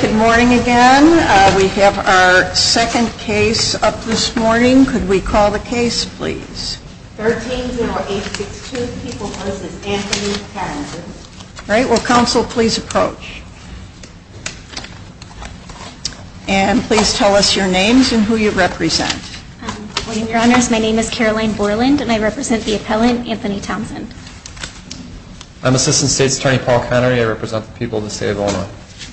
Good morning again. We have our second case up this morning. Could we call the case, please? 130862, People v. Anthony Townsend. All right. Will counsel please approach? And please tell us your names and who you represent. My name is Caroline Borland, and I represent the appellant, Anthony Townsend. I'm Assistant State's Attorney Paul Connery. I represent the people of the state of Illinois.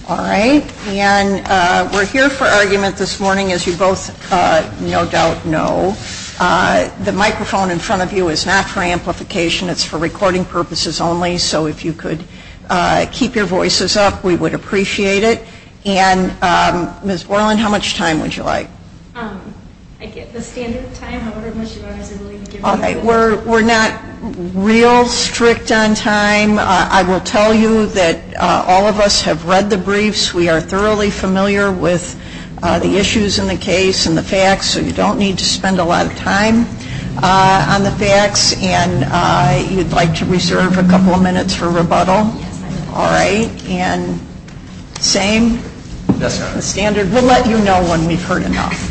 All right. And we're here for argument this morning, as you both no doubt know. The microphone in front of you is not for amplification. It's for recording purposes only. So if you could keep your voices up, we would appreciate it. And Ms. Borland, how much time would you like? I get the standard time, however much you are willing to give me. All right. We're not real strict on time. I will tell you that all of us have read the briefs. We are thoroughly familiar with the issues in the case and the facts, so you don't need to spend a lot of time on the facts. And you'd like to reserve a couple of minutes for rebuttal? Yes, ma'am. All right. And same standard? Yes, ma'am. We'll let you know when we've heard enough.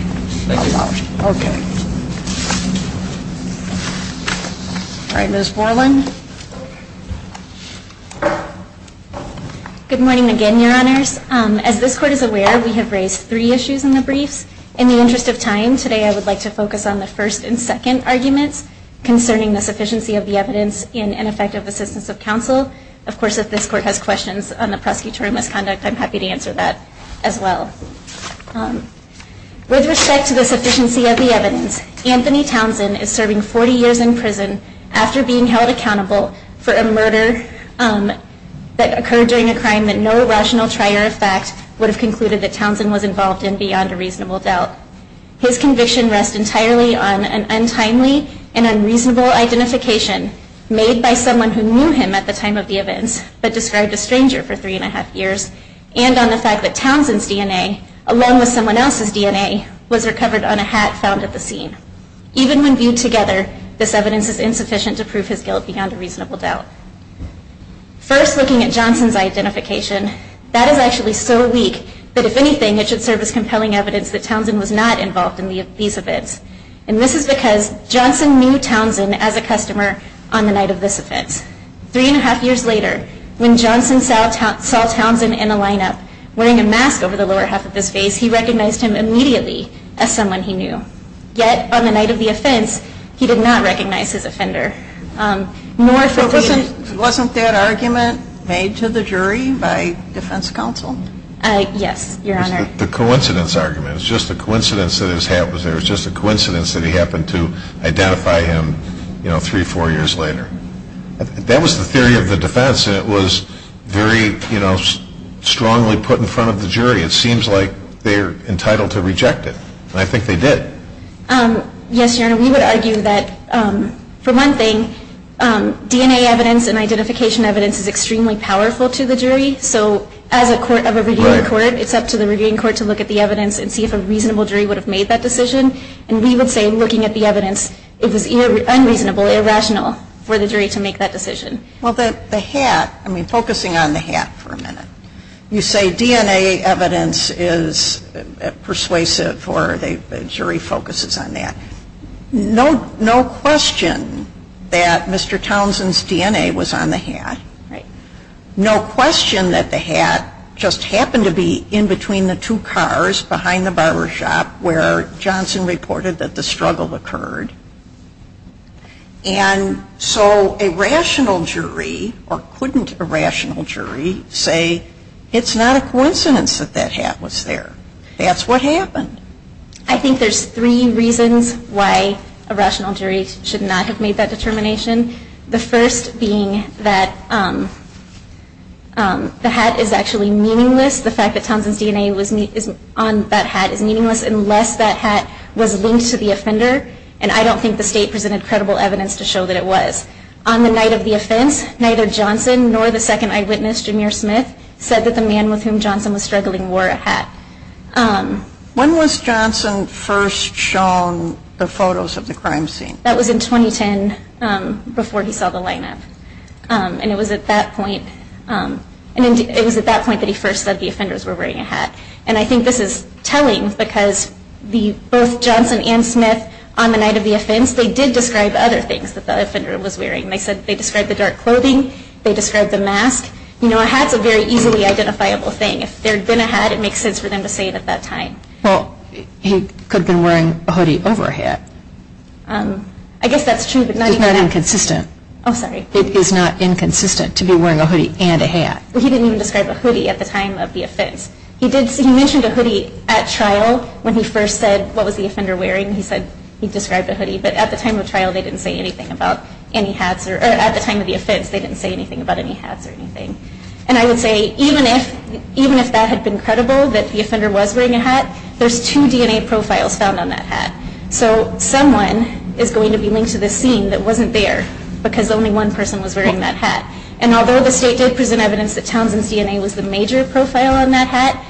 All right. Ms. Borland? Good morning again, Your Honors. As this Court is aware, we have raised three issues in the briefs. In the interest of time today, I would like to focus on the first and second arguments concerning the sufficiency of the evidence in ineffective assistance of counsel. Of course, if this Court has questions on the prosecutorial misconduct, I'm happy to answer that as well. With respect to the sufficiency of the evidence, Anthony Townsend is serving 40 years in prison after being held accountable for a murder that occurred during a crime that no rational trier of fact would have concluded that Townsend was involved in beyond a reasonable doubt. His conviction rests entirely on an untimely and unreasonable identification made by someone who knew him at the time of the events but described a stranger for three and a half years, and on the fact that Townsend's DNA, along with someone else's DNA, was recovered on a hat found at the scene. Even when viewed together, this evidence is insufficient to prove his guilt beyond a reasonable doubt. First, looking at Johnson's identification, that is actually so weak that if anything, it should serve as compelling evidence that Townsend was not involved in these events. And this is because Johnson knew Townsend as a customer on the night of this event. Three and a half years later, when Johnson saw Townsend in the lineup wearing a mask over the lower half of his face, he recognized him immediately as someone he knew. Yet, on the night of the offense, he did not recognize his offender. Wasn't that argument made to the jury by defense counsel? Yes, Your Honor. It was the coincidence argument. It was just a coincidence that his hat was there. It was just a coincidence that he happened to identify him three or four years later. That was the theory of the defense, and it was very strongly put in front of the jury. It seems like they're entitled to reject it, and I think they did. Yes, Your Honor, we would argue that, for one thing, DNA evidence and identification evidence is extremely powerful to the jury. So as a court of a reviewing court, it's up to the reviewing court to look at the evidence and see if a reasonable jury would have made that decision. And we would say, looking at the evidence, it was unreasonable, irrational, for the jury to make that decision. Well, the hat, I mean, focusing on the hat for a minute, you say DNA evidence is persuasive or the jury focuses on that. No question that Mr. Townsend's DNA was on the hat. Right. No question that the hat just happened to be in between the two cars behind the barber shop where Johnson reported that the struggle occurred. And so a rational jury, or couldn't a rational jury, say it's not a coincidence that that hat was there. That's what happened. I think there's three reasons why a rational jury should not have made that determination. The first being that the hat is actually meaningless. The fact that Townsend's DNA is on that hat is meaningless unless that hat was linked to the offender. And I don't think the state presented credible evidence to show that it was. On the night of the offense, neither Johnson nor the second eyewitness, Jameer Smith, said that the man with whom Johnson was struggling wore a hat. When was Johnson first shown the photos of the crime scene? That was in 2010 before he saw the lineup. And it was at that point that he first said the offenders were wearing a hat. And I think this is telling because both Johnson and Smith, on the night of the offense, they did describe other things that the offender was wearing. They described the dark clothing. They described the mask. A hat's a very easily identifiable thing. If there had been a hat, it makes sense for them to say it at that time. Well, he could have been wearing a hoodie over a hat. I guess that's true, but not even that. It's not inconsistent. Oh, sorry. It is not inconsistent to be wearing a hoodie and a hat. He didn't even describe a hoodie at the time of the offense. He mentioned a hoodie at trial when he first said what was the offender wearing. He said he described a hoodie. But at the time of trial, they didn't say anything about any hats. Or at the time of the offense, they didn't say anything about any hats or anything. And I would say even if that had been credible, that the offender was wearing a hat, there's two DNA profiles found on that hat. So someone is going to be linked to this scene that wasn't there because only one person was wearing that hat. And although the state did present evidence that Townsend's DNA was the major profile on that hat,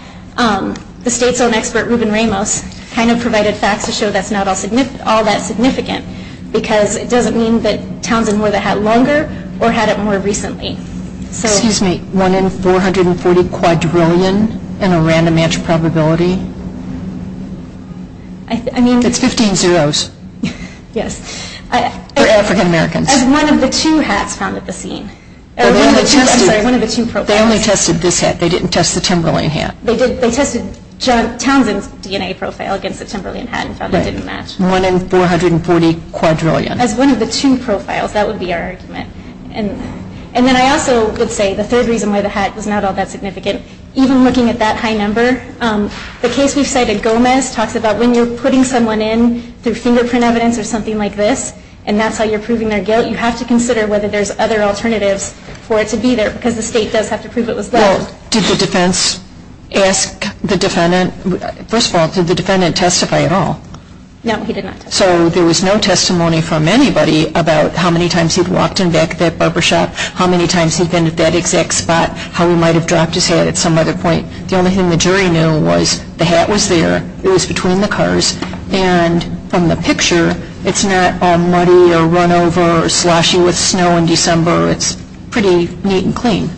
the state's own expert, Ruben Ramos, kind of provided facts to show that's not all that significant because it doesn't mean that Townsend wore the hat longer or had it more recently. Excuse me. One in 440 quadrillion in a random match probability? I mean. It's 15 zeros. Yes. For African-Americans. As one of the two hats found at the scene. Or one of the two. I'm sorry. One of the two profiles. They only tested this hat. They didn't test the Timberland hat. They tested Townsend's DNA profile against the Timberland hat and found it didn't match. One in 440 quadrillion. As one of the two profiles. That would be our argument. And then I also would say the third reason why the hat was not all that significant, even looking at that high number, the case we've cited, Gomez, talks about when you're putting someone in through fingerprint evidence or something like this and that's how you're proving their guilt, you have to consider whether there's other alternatives for it to be there because the state does have to prove it was there. Well, did the defense ask the defendant? First of all, did the defendant testify at all? No, he did not testify. So there was no testimony from anybody about how many times he'd walked in back of that barbershop, how many times he'd been at that exact spot, how he might have dropped his hat at some other point. The only thing the jury knew was the hat was there. It was between the cars. And from the picture, it's not all muddy or run over or sloshy with snow in December. It's pretty neat and clean.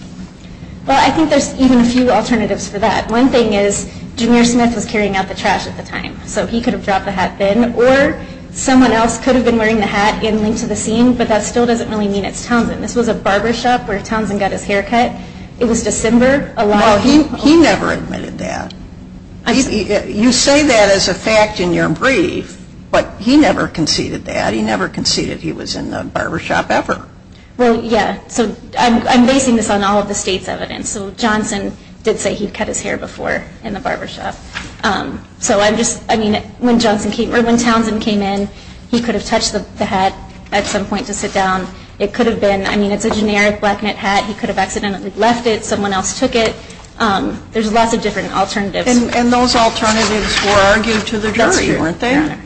Well, I think there's even a few alternatives for that. One thing is, Jameer Smith was carrying out the trash at the time. So he could have dropped the hat then. Or someone else could have been wearing the hat in link to the scene, but that still doesn't really mean it's Townsend. This was a barbershop where Townsend got his hair cut. It was December. Well, he never admitted that. You say that as a fact in your brief, but he never conceded that. He never conceded he was in the barbershop ever. Well, yeah. So I'm basing this on all of the state's evidence. So Johnson did say he cut his hair before in the barbershop. So, I mean, when Townsend came in, he could have touched the hat at some point to sit down. It could have been, I mean, it's a generic black knit hat. He could have accidentally left it. Someone else took it. There's lots of different alternatives. And those alternatives were argued to the jury, weren't they?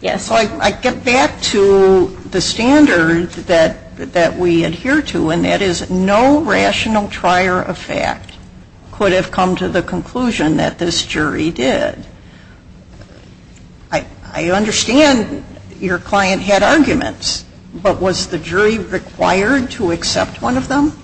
Yes. So I get back to the standard that we adhere to, and that is no rational trier of fact could have come to the conclusion that this jury did. I understand your client had arguments, but was the jury required to accept one of them?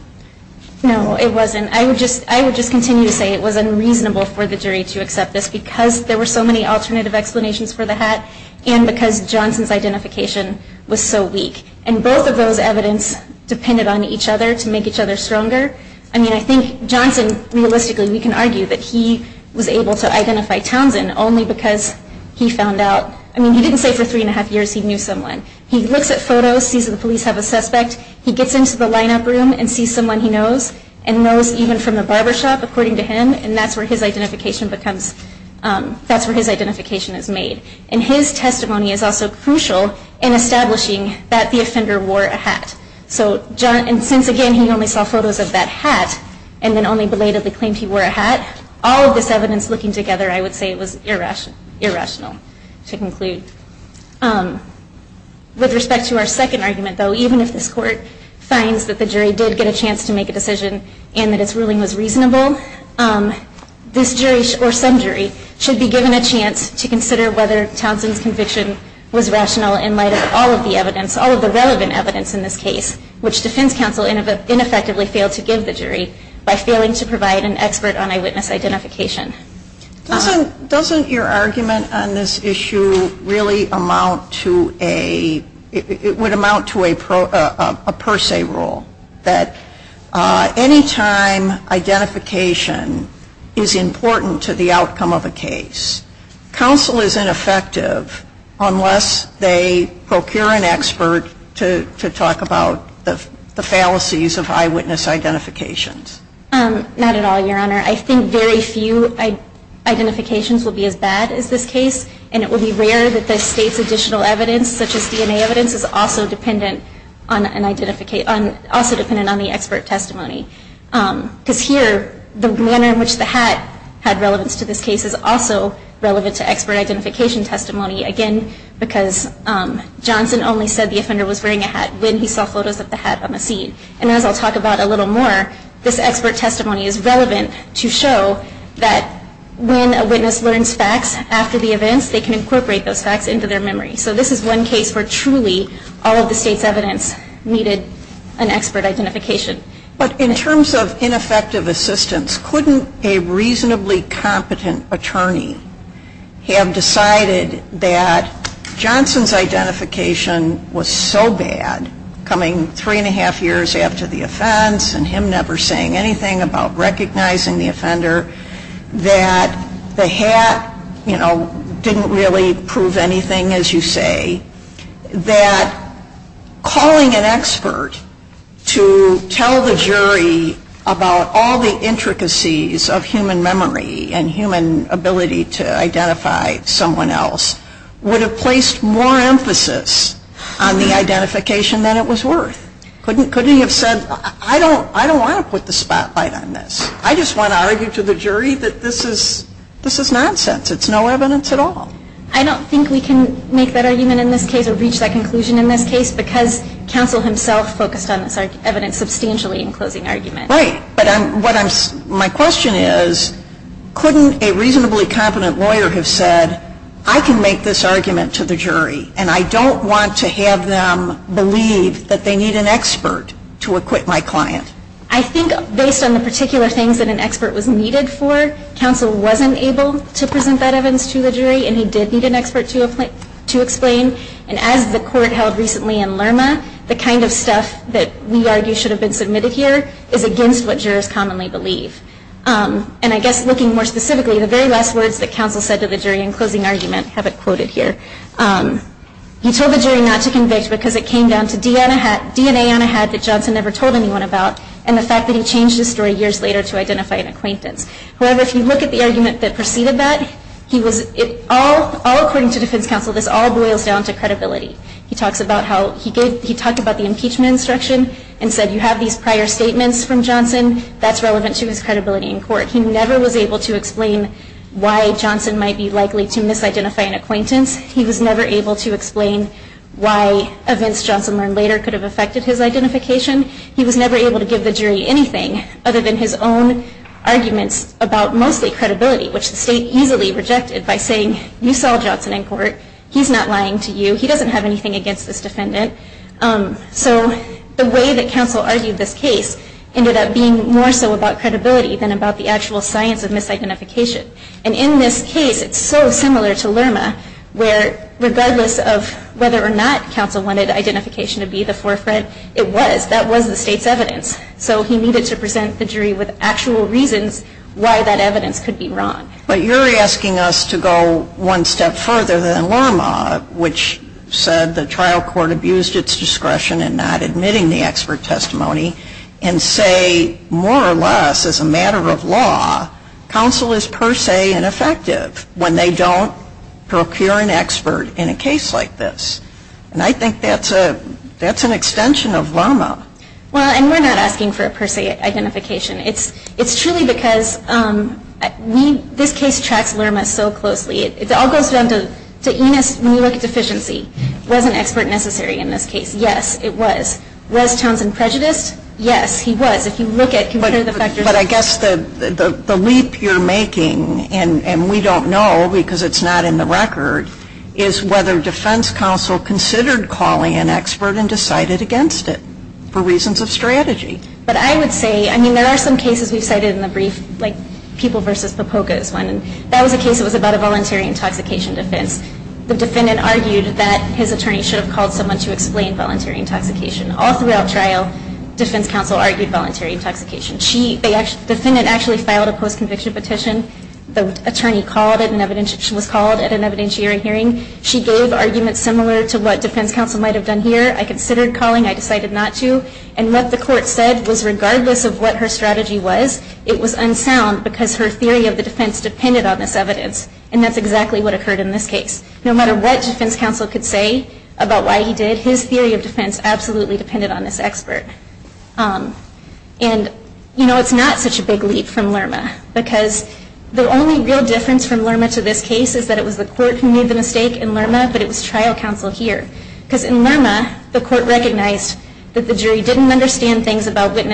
No, it wasn't. I would just continue to say it was unreasonable for the jury to accept this because there were so many alternative explanations for the hat and because Johnson's identification was so weak. And both of those evidence depended on each other to make each other stronger. I mean, I think Johnson, realistically, we can argue that he was able to identify Townsend only because he found out, I mean, he didn't say for three and a half years he knew someone. He looks at photos, sees that the police have a suspect. He gets into the lineup room and sees someone he knows and knows even from the barbershop, according to him, and that's where his identification becomes, that's where his identification is made. And his testimony is also crucial in establishing that the offender wore a hat. And since, again, he only saw photos of that hat and then only belatedly claimed he wore a hat, all of this evidence looking together, I would say it was irrational to conclude. With respect to our second argument, though, even if this Court finds that the jury did get a chance to make a decision and that its ruling was reasonable, this jury or some jury should be given a chance to consider whether Townsend's conviction was rational in light of all of the evidence, all of the relevant evidence in this case, which defense counsel ineffectively failed to give the jury by failing to provide an expert on eyewitness identification. Doesn't your argument on this issue really amount to a, it would amount to a per se rule that any time identification is important to the outcome of a case, counsel is ineffective unless they procure an expert to talk about the fallacies of eyewitness identifications? Not at all, Your Honor. I think very few identifications will be as bad as this case, and it would be rare that the State's additional evidence, such as DNA evidence, is also dependent on the expert testimony. Because here, the manner in which the hat had relevance to this case is also relevant to expert identification testimony. Again, because Johnson only said the offender was wearing a hat when he saw photos of the hat on the scene. And as I'll talk about a little more, this expert testimony is relevant to show that when a witness learns facts after the events, they can incorporate those facts into their memory. So this is one case where truly all of the State's evidence needed an expert identification. But in terms of ineffective assistance, couldn't a reasonably competent attorney have decided that Johnson's identification was so bad coming three and a half years after the offense that the hat, you know, didn't really prove anything, as you say, that calling an expert to tell the jury about all the intricacies of human memory and human ability to identify someone else would have placed more emphasis on the identification than it was worth? Couldn't he have said, I don't want to put the spotlight on this. I just want to argue to the jury that this is nonsense. It's no evidence at all. I don't think we can make that argument in this case or reach that conclusion in this case because counsel himself focused on this evidence substantially in closing argument. Right. But my question is, couldn't a reasonably competent lawyer have said, I can make this argument to the jury and I don't want to have them believe that they need an expert to acquit my client? I think based on the particular things that an expert was needed for, counsel wasn't able to present that evidence to the jury and he did need an expert to explain. And as the court held recently in Lerma, the kind of stuff that we argue should have been submitted here is against what jurors commonly believe. And I guess looking more specifically, the very last words that counsel said to the jury in closing argument have it quoted here. He told the jury not to convict because it came down to DNA on a hat that Johnson never told anyone about and the fact that he changed his story years later to identify an acquaintance. However, if you look at the argument that preceded that, all according to defense counsel, this all boils down to credibility. He talked about the impeachment instruction and said you have these prior statements from Johnson, that's relevant to his credibility in court. He never was able to explain why Johnson might be likely to misidentify an acquaintance. He was never able to explain why events Johnson learned later could have affected his identification. He was never able to give the jury anything other than his own arguments about mostly credibility, which the state easily rejected by saying you saw Johnson in court, he's not lying to you, he doesn't have anything against this defendant. So the way that counsel argued this case ended up being more so about credibility than about the actual science of misidentification. And in this case, it's so similar to Lerma, where regardless of whether or not counsel wanted identification to be the forefront, it was, that was the state's evidence. So he needed to present the jury with actual reasons why that evidence could be wrong. But you're asking us to go one step further than Lerma, which said the trial court abused its discretion in not admitting the expert testimony and say more or less as a matter of law, counsel is per se ineffective when they don't procure an expert in a case like this. And I think that's an extension of Lerma. Well, and we're not asking for a per se identification. It's truly because this case tracks Lerma so closely. It all goes down to Enos, when you look at deficiency, was an expert necessary in this case? Yes, it was. Was Townsend prejudiced? Yes, he was. But I guess the leap you're making, and we don't know because it's not in the record, is whether defense counsel considered calling an expert and decided against it for reasons of strategy. But I would say, I mean, there are some cases we've cited in the brief, like People v. Popoga is one, and that was a case that was about a voluntary intoxication defense. The defendant argued that his attorney should have called someone to explain voluntary intoxication. All throughout trial, defense counsel argued voluntary intoxication. The defendant actually filed a post-conviction petition. The attorney was called at an evidentiary hearing. She gave arguments similar to what defense counsel might have done here. I considered calling. I decided not to. And what the court said was, regardless of what her strategy was, it was unsound because her theory of the defense depended on this evidence. And that's exactly what occurred in this case. No matter what defense counsel could say about why he did, his theory of defense absolutely depended on this expert. And, you know, it's not such a big leap from Lerma, because the only real difference from Lerma to this case is that it was the court who made the mistake in Lerma, but it was trial counsel here. Because in Lerma, the court recognized that the jury didn't understand things about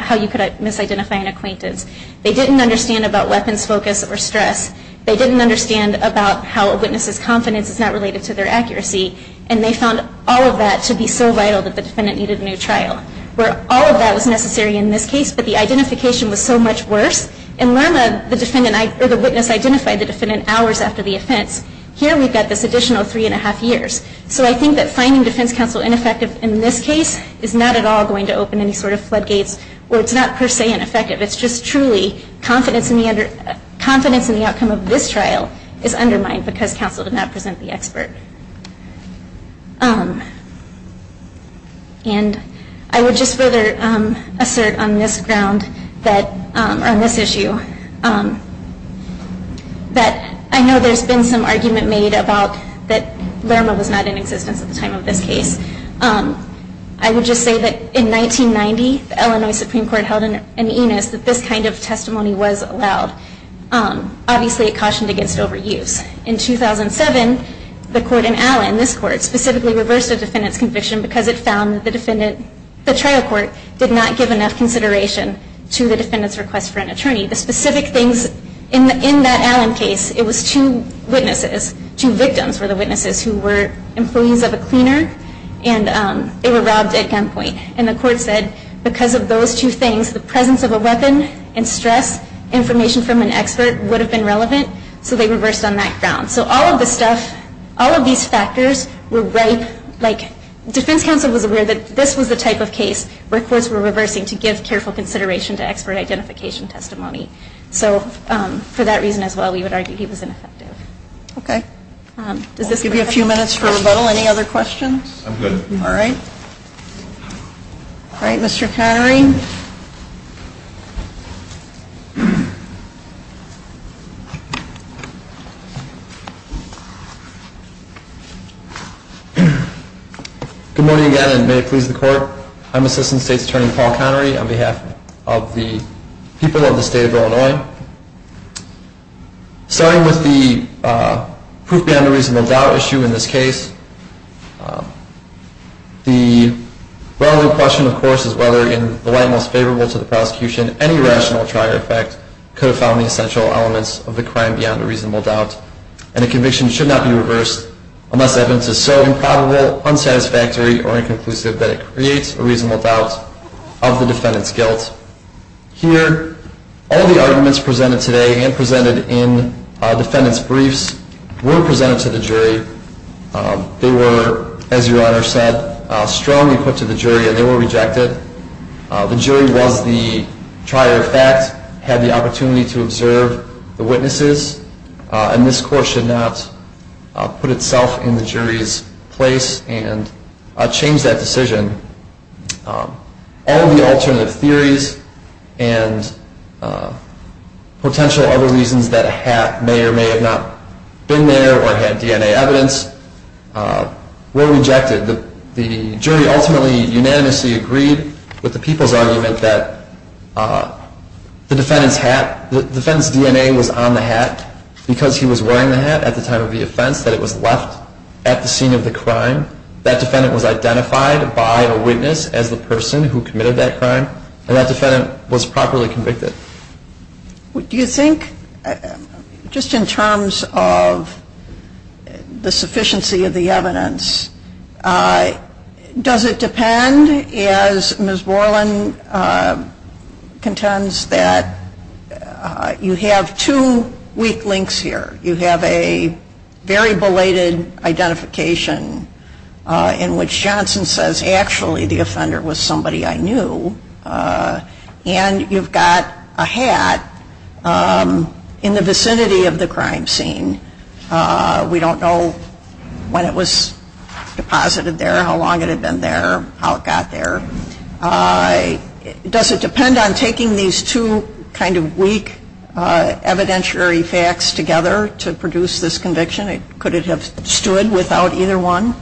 how you could misidentify an acquaintance. They didn't understand about weapons focus or stress. They didn't understand about how a witness's confidence is not related to their accuracy. And they found all of that to be so vital that the defendant needed a new trial, where all of that was necessary in this case, but the identification was so much worse. In Lerma, the witness identified the defendant hours after the offense. Here we've got this additional three and a half years. So I think that finding defense counsel ineffective in this case is not at all going to open any sort of floodgates, or it's not per se ineffective. It's just truly confidence in the outcome of this trial is undermined because counsel did not present the expert. And I would just further assert on this issue that I know there's been some argument made about that Lerma was not in existence at the time of this case. I would just say that in 1990, the Illinois Supreme Court held an enis that this kind of testimony was allowed. Obviously, it cautioned against overuse. In 2007, the court in Allen, this court, specifically reversed the defendant's conviction because it found that the trial court did not give enough consideration to the defendant's request for an attorney. The specific things in that Allen case, it was two witnesses, two victims were the witnesses who were employees of a cleaner, and they were robbed at gunpoint. And the court said because of those two things, the presence of a weapon and stress information from an expert would have been relevant, so they reversed on that ground. So all of the stuff, all of these factors were right, like defense counsel was aware that this was the type of case where courts were reversing to give careful consideration to expert identification testimony. So for that reason as well, we would argue he was ineffective. Okay. I'll give you a few minutes for rebuttal. Any other questions? I'm good. All right. All right, Mr. Connery. Good morning again, and may it please the Court. I'm Assistant State's Attorney Paul Connery on behalf of the people of the State of Illinois. Starting with the proof beyond a reasonable doubt issue in this case, the well-known question, of course, is whether in the light most favorable to the prosecution, any rational trier effect could have found the essential elements of the crime beyond a reasonable doubt. And a conviction should not be reversed unless evidence is so improbable, unsatisfactory, or inconclusive that it creates a reasonable doubt of the defendant's guilt. Here, all the arguments presented today and presented in defendant's briefs were presented to the jury. They were, as Your Honor said, strongly put to the jury, and they were rejected. The jury was the trier effect, had the opportunity to observe the witnesses, and this Court should not put itself in the jury's place and change that decision. All the alternative theories and potential other reasons that a hat may or may have not been there or had DNA evidence were rejected. The jury ultimately unanimously agreed with the people's argument that the defendant's DNA was on the hat because he was wearing the hat at the time of the offense, that it was left at the scene of the crime. That defendant was identified by a witness as the person who committed that crime, and that defendant was properly convicted. Do you think, just in terms of the sufficiency of the evidence, does it depend, as Ms. Borland contends, that you have two weak links here? You have a very belated identification in which Johnson says, actually the offender was somebody I knew, and you've got a hat in the vicinity of the crime scene. We don't know when it was deposited there, how long it had been there, how it got there. Does it depend on taking these two kind of weak evidentiary facts together to produce this conviction? Could it have stood without either one?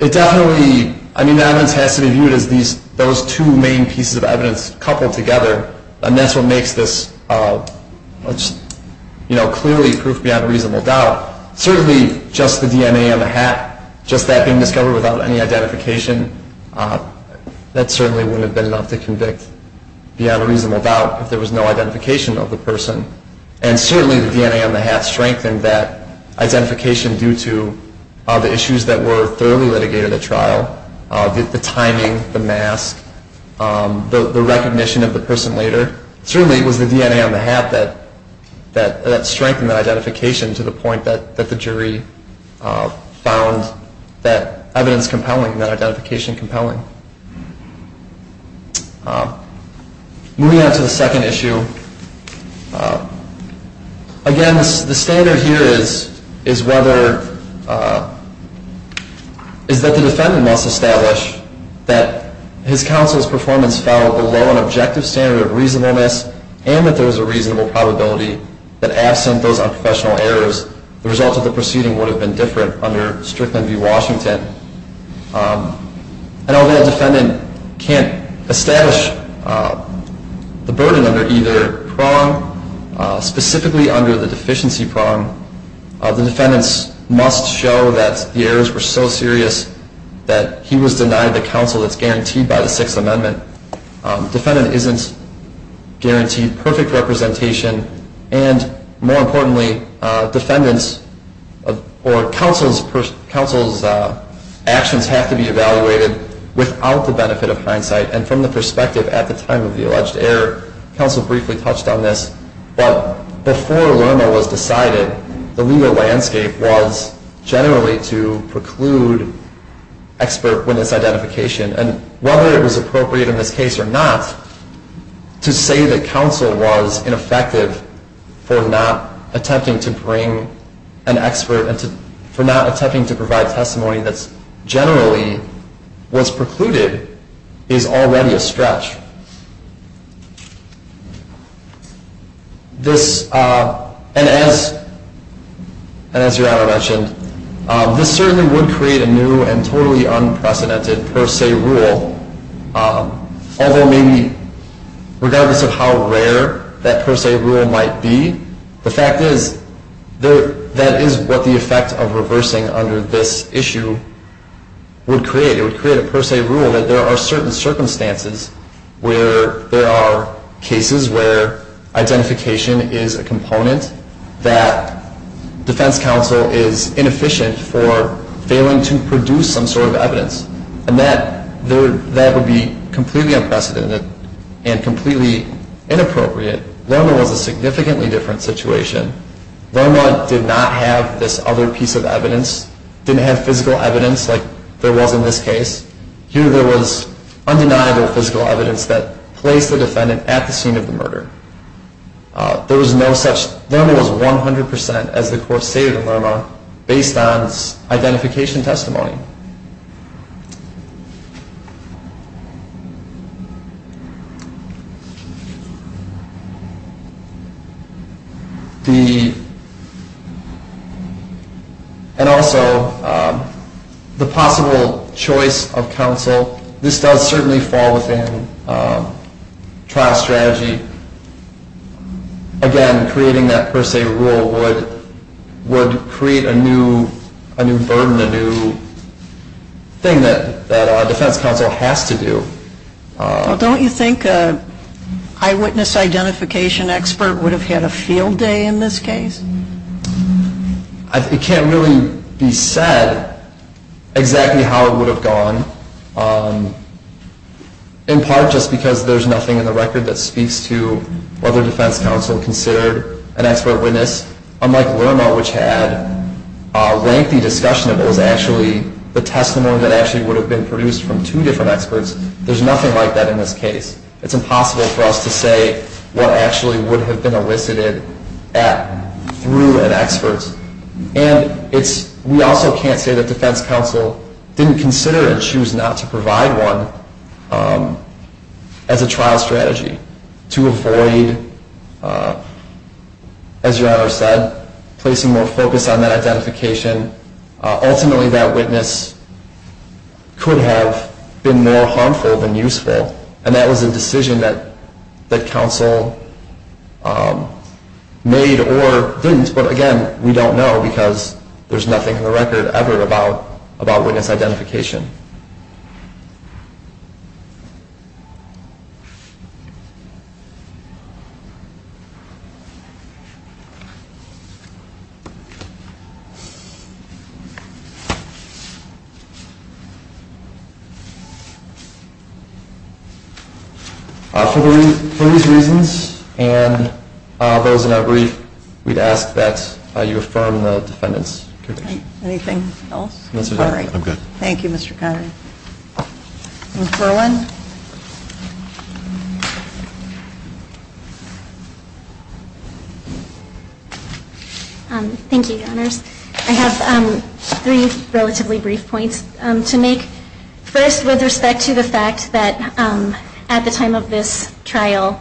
It definitely, I mean the evidence has to be viewed as those two main pieces of evidence coupled together, and that's what makes this clearly proof beyond reasonable doubt. Certainly, just the DNA on the hat, just that being discovered without any identification, that certainly wouldn't have been enough to convict beyond reasonable doubt if there was no identification of the person. And certainly the DNA on the hat strengthened that identification due to the issues that were thoroughly litigated at trial, the timing, the mask, the recognition of the person later. Certainly it was the DNA on the hat that strengthened that identification to the point that the jury found that evidence compelling, that identification compelling. Moving on to the second issue, again the standard here is whether, is that the defendant must establish that his counsel's performance fell below an objective standard of reasonableness and that there was a reasonable probability that absent those unprofessional errors, the result of the proceeding would have been different under Strickland v. Washington. And although a defendant can't establish the burden under either prong, specifically under the deficiency prong, the defendants must show that the errors were so serious that he was denied the counsel that's guaranteed by the Sixth Amendment. Defendant isn't guaranteed perfect representation, and more importantly, defendant's or counsel's actions have to be evaluated without the benefit of hindsight, and from the perspective at the time of the alleged error, counsel briefly touched on this, but before Lerma was decided, the legal landscape was generally to preclude expert witness identification, and whether it was appropriate in this case or not, to say that counsel was ineffective for not attempting to bring an expert, for not attempting to provide testimony that generally was precluded is already a stretch. And as Your Honor mentioned, this certainly would create a new and totally unprecedented per se rule, although maybe regardless of how rare that per se rule might be, the fact is that is what the effect of reversing under this issue would create. It would create a per se rule that there are certain circumstances where there are cases where identification is a component that defense counsel is inefficient for failing to produce some sort of evidence, and that would be completely unprecedented and completely inappropriate. Lerma was a significantly different situation. Lerma did not have this other piece of evidence, didn't have physical evidence like there was in this case, here there was undeniable physical evidence that placed the defendant at the scene of the murder. There was no such, Lerma was 100% as the court stated in Lerma, based on identification testimony. And also, the possible choice of counsel, this does certainly fall within trial strategy. Again, creating that per se rule would create a new burden, a new thing that defense counsel has to do. Don't you think an eyewitness identification expert would have had a field day in this case? It can't really be said exactly how it would have gone, in part just because there's nothing in the record that speaks to whether defense counsel considered an expert witness, unlike Lerma, which had lengthy discussion of what was actually the testimony that actually would have been produced from two different experts. There's nothing like that in this case. It's impossible for us to say what actually would have been elicited through an expert. And we also can't say that defense counsel didn't consider and choose not to provide one as a trial strategy to avoid, as your Honor said, placing more focus on that identification. Ultimately, that witness could have been more harmful than useful, and that was a decision that counsel made or didn't. But again, we don't know because there's nothing in the record ever about witness identification. Thank you. For these reasons and those in our brief, we'd ask that you affirm the defendant's conviction. Anything else? I'm sorry. I'm good. Thank you, Mr. Connery. Ms. Berwyn. Thank you, Your Honors. I have three relatively brief points to make. First, with respect to the fact that at the time of this trial,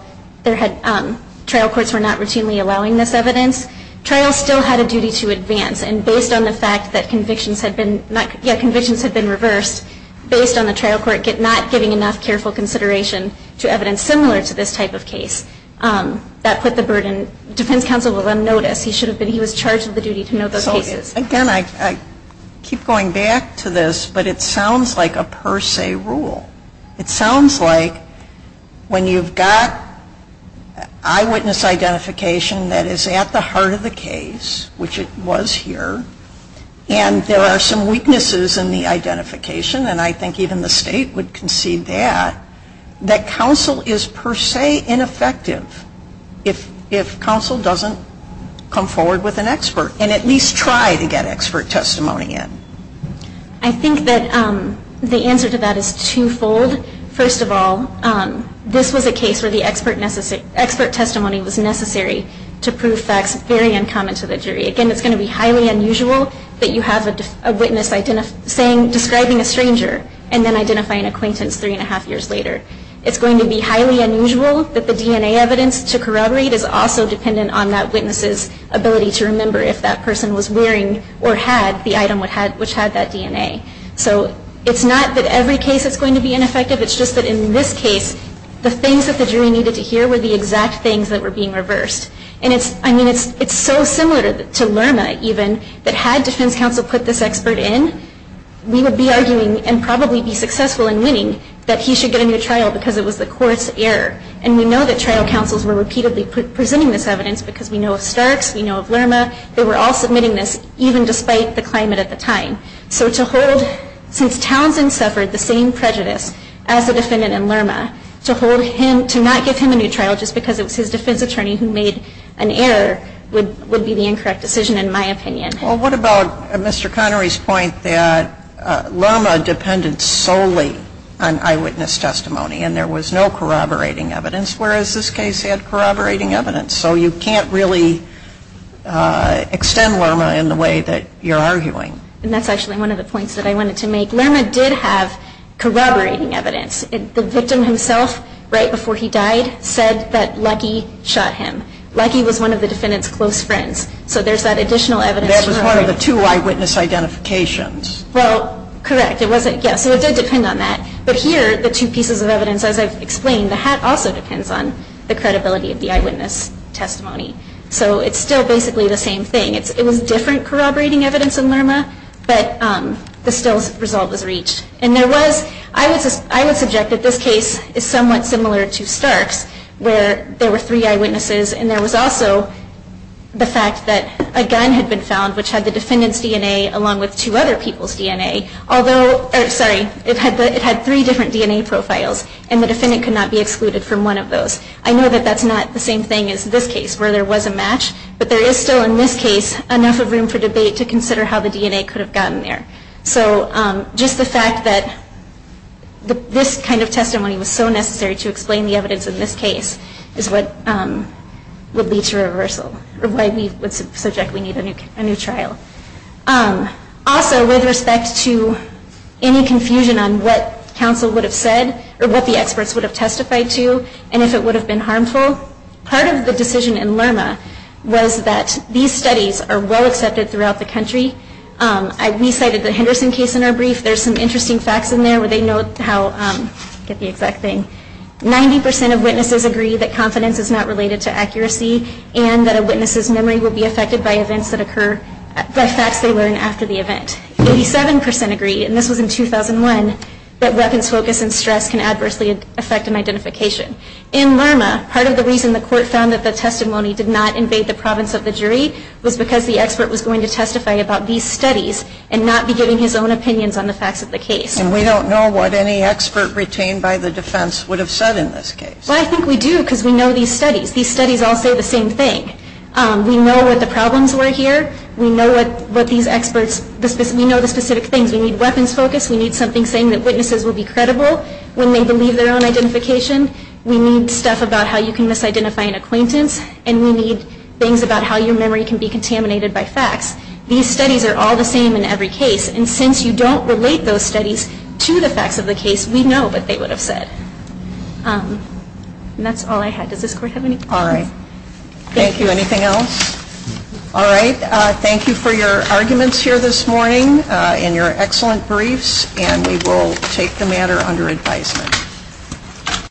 trial courts were not routinely allowing this evidence. Trials still had a duty to advance, and based on the fact that convictions had been reversed, based on the trial court not giving enough careful consideration to evidence similar to this type of case, that put the burden. Defense counsel will then notice. He was charged with the duty to note those cases. Again, I keep going back to this, but it sounds like a per se rule. It sounds like when you've got eyewitness identification that is at the heart of the case, which it was here, and there are some weaknesses in the identification, and I think even the State would concede that, that counsel is per se ineffective if counsel doesn't come forward with an expert and at least try to get expert testimony in. I think that the answer to that is twofold. First of all, this was a case where the expert testimony was necessary to prove facts very uncommon to the jury. Again, it's going to be highly unusual that you have a witness describing a stranger and then identifying an acquaintance three and a half years later. It's going to be highly unusual that the DNA evidence to corroborate is also dependent on that witness's ability to remember if that person was wearing or had the item which had that DNA. So it's not that every case is going to be ineffective. It's just that in this case, the things that the jury needed to hear were the exact things that were being reversed. I mean, it's so similar to Lerma, even, that had defense counsel put this expert in, we would be arguing and probably be successful in winning that he should get a new trial because it was the court's error. And we know that trial counsels were repeatedly presenting this evidence because we know of Starks. We know of Lerma. They were all submitting this, even despite the climate at the time. So to hold, since Townsend suffered the same prejudice as the defendant in Lerma, to hold him, to not give him a new trial just because it was his defense attorney who made an error would be the incorrect decision, in my opinion. Well, what about Mr. Connery's point that Lerma depended solely on eyewitness testimony and there was no corroborating evidence, whereas this case had corroborating evidence. So you can't really extend Lerma in the way that you're arguing. And that's actually one of the points that I wanted to make. Lerma did have corroborating evidence. The victim himself, right before he died, said that Lucky shot him. Lucky was one of the defendant's close friends. So there's that additional evidence. That was one of the two eyewitness identifications. Well, correct. It wasn't, yes. So it did depend on that. But here, the two pieces of evidence, as I've explained, the hat also depends on the credibility of the eyewitness testimony. So it's still basically the same thing. It was different corroborating evidence in Lerma, but the stills result was reached. And there was, I would subject that this case is somewhat similar to Stark's, where there were three eyewitnesses and there was also the fact that a gun had been found, which had the defendant's DNA along with two other people's DNA, although, sorry, it had three different DNA profiles, and the defendant could not be excluded from one of those. I know that that's not the same thing as this case, where there was a match, but there is still, in this case, enough of room for debate to consider how the DNA could have gotten there. So just the fact that this kind of testimony was so necessary to explain the evidence in this case is what would lead to reversal, or why we would subjectly need a new trial. Also, with respect to any confusion on what counsel would have said, or what the experts would have testified to, and if it would have been harmful, part of the decision in Lerma was that these studies are well accepted throughout the country. We cited the Henderson case in our brief. There's some interesting facts in there where they note how, get the exact thing, 90% of witnesses agree that confidence is not related to accuracy and that a witness's memory will be affected by facts they learn after the event. 87% agree, and this was in 2001, that weapons focus and stress can adversely affect an identification. In Lerma, part of the reason the court found that the testimony did not invade the province of the jury was because the expert was going to testify about these studies and not be giving his own opinions on the facts of the case. And we don't know what any expert retained by the defense would have said in this case. Well, I think we do, because we know these studies. These studies all say the same thing. We know what the problems were here. We know the specific things. We need weapons focus. We need something saying that witnesses will be credible when they believe their own identification. We need stuff about how you can misidentify an acquaintance, and we need things about how your memory can be contaminated by facts. These studies are all the same in every case, and since you don't relate those studies to the facts of the case, we know what they would have said. And that's all I had. Does this court have any questions? All right. Thank you. Anything else? All right. Thank you for your arguments here this morning and your excellent briefs, and we will take the matter under advisement.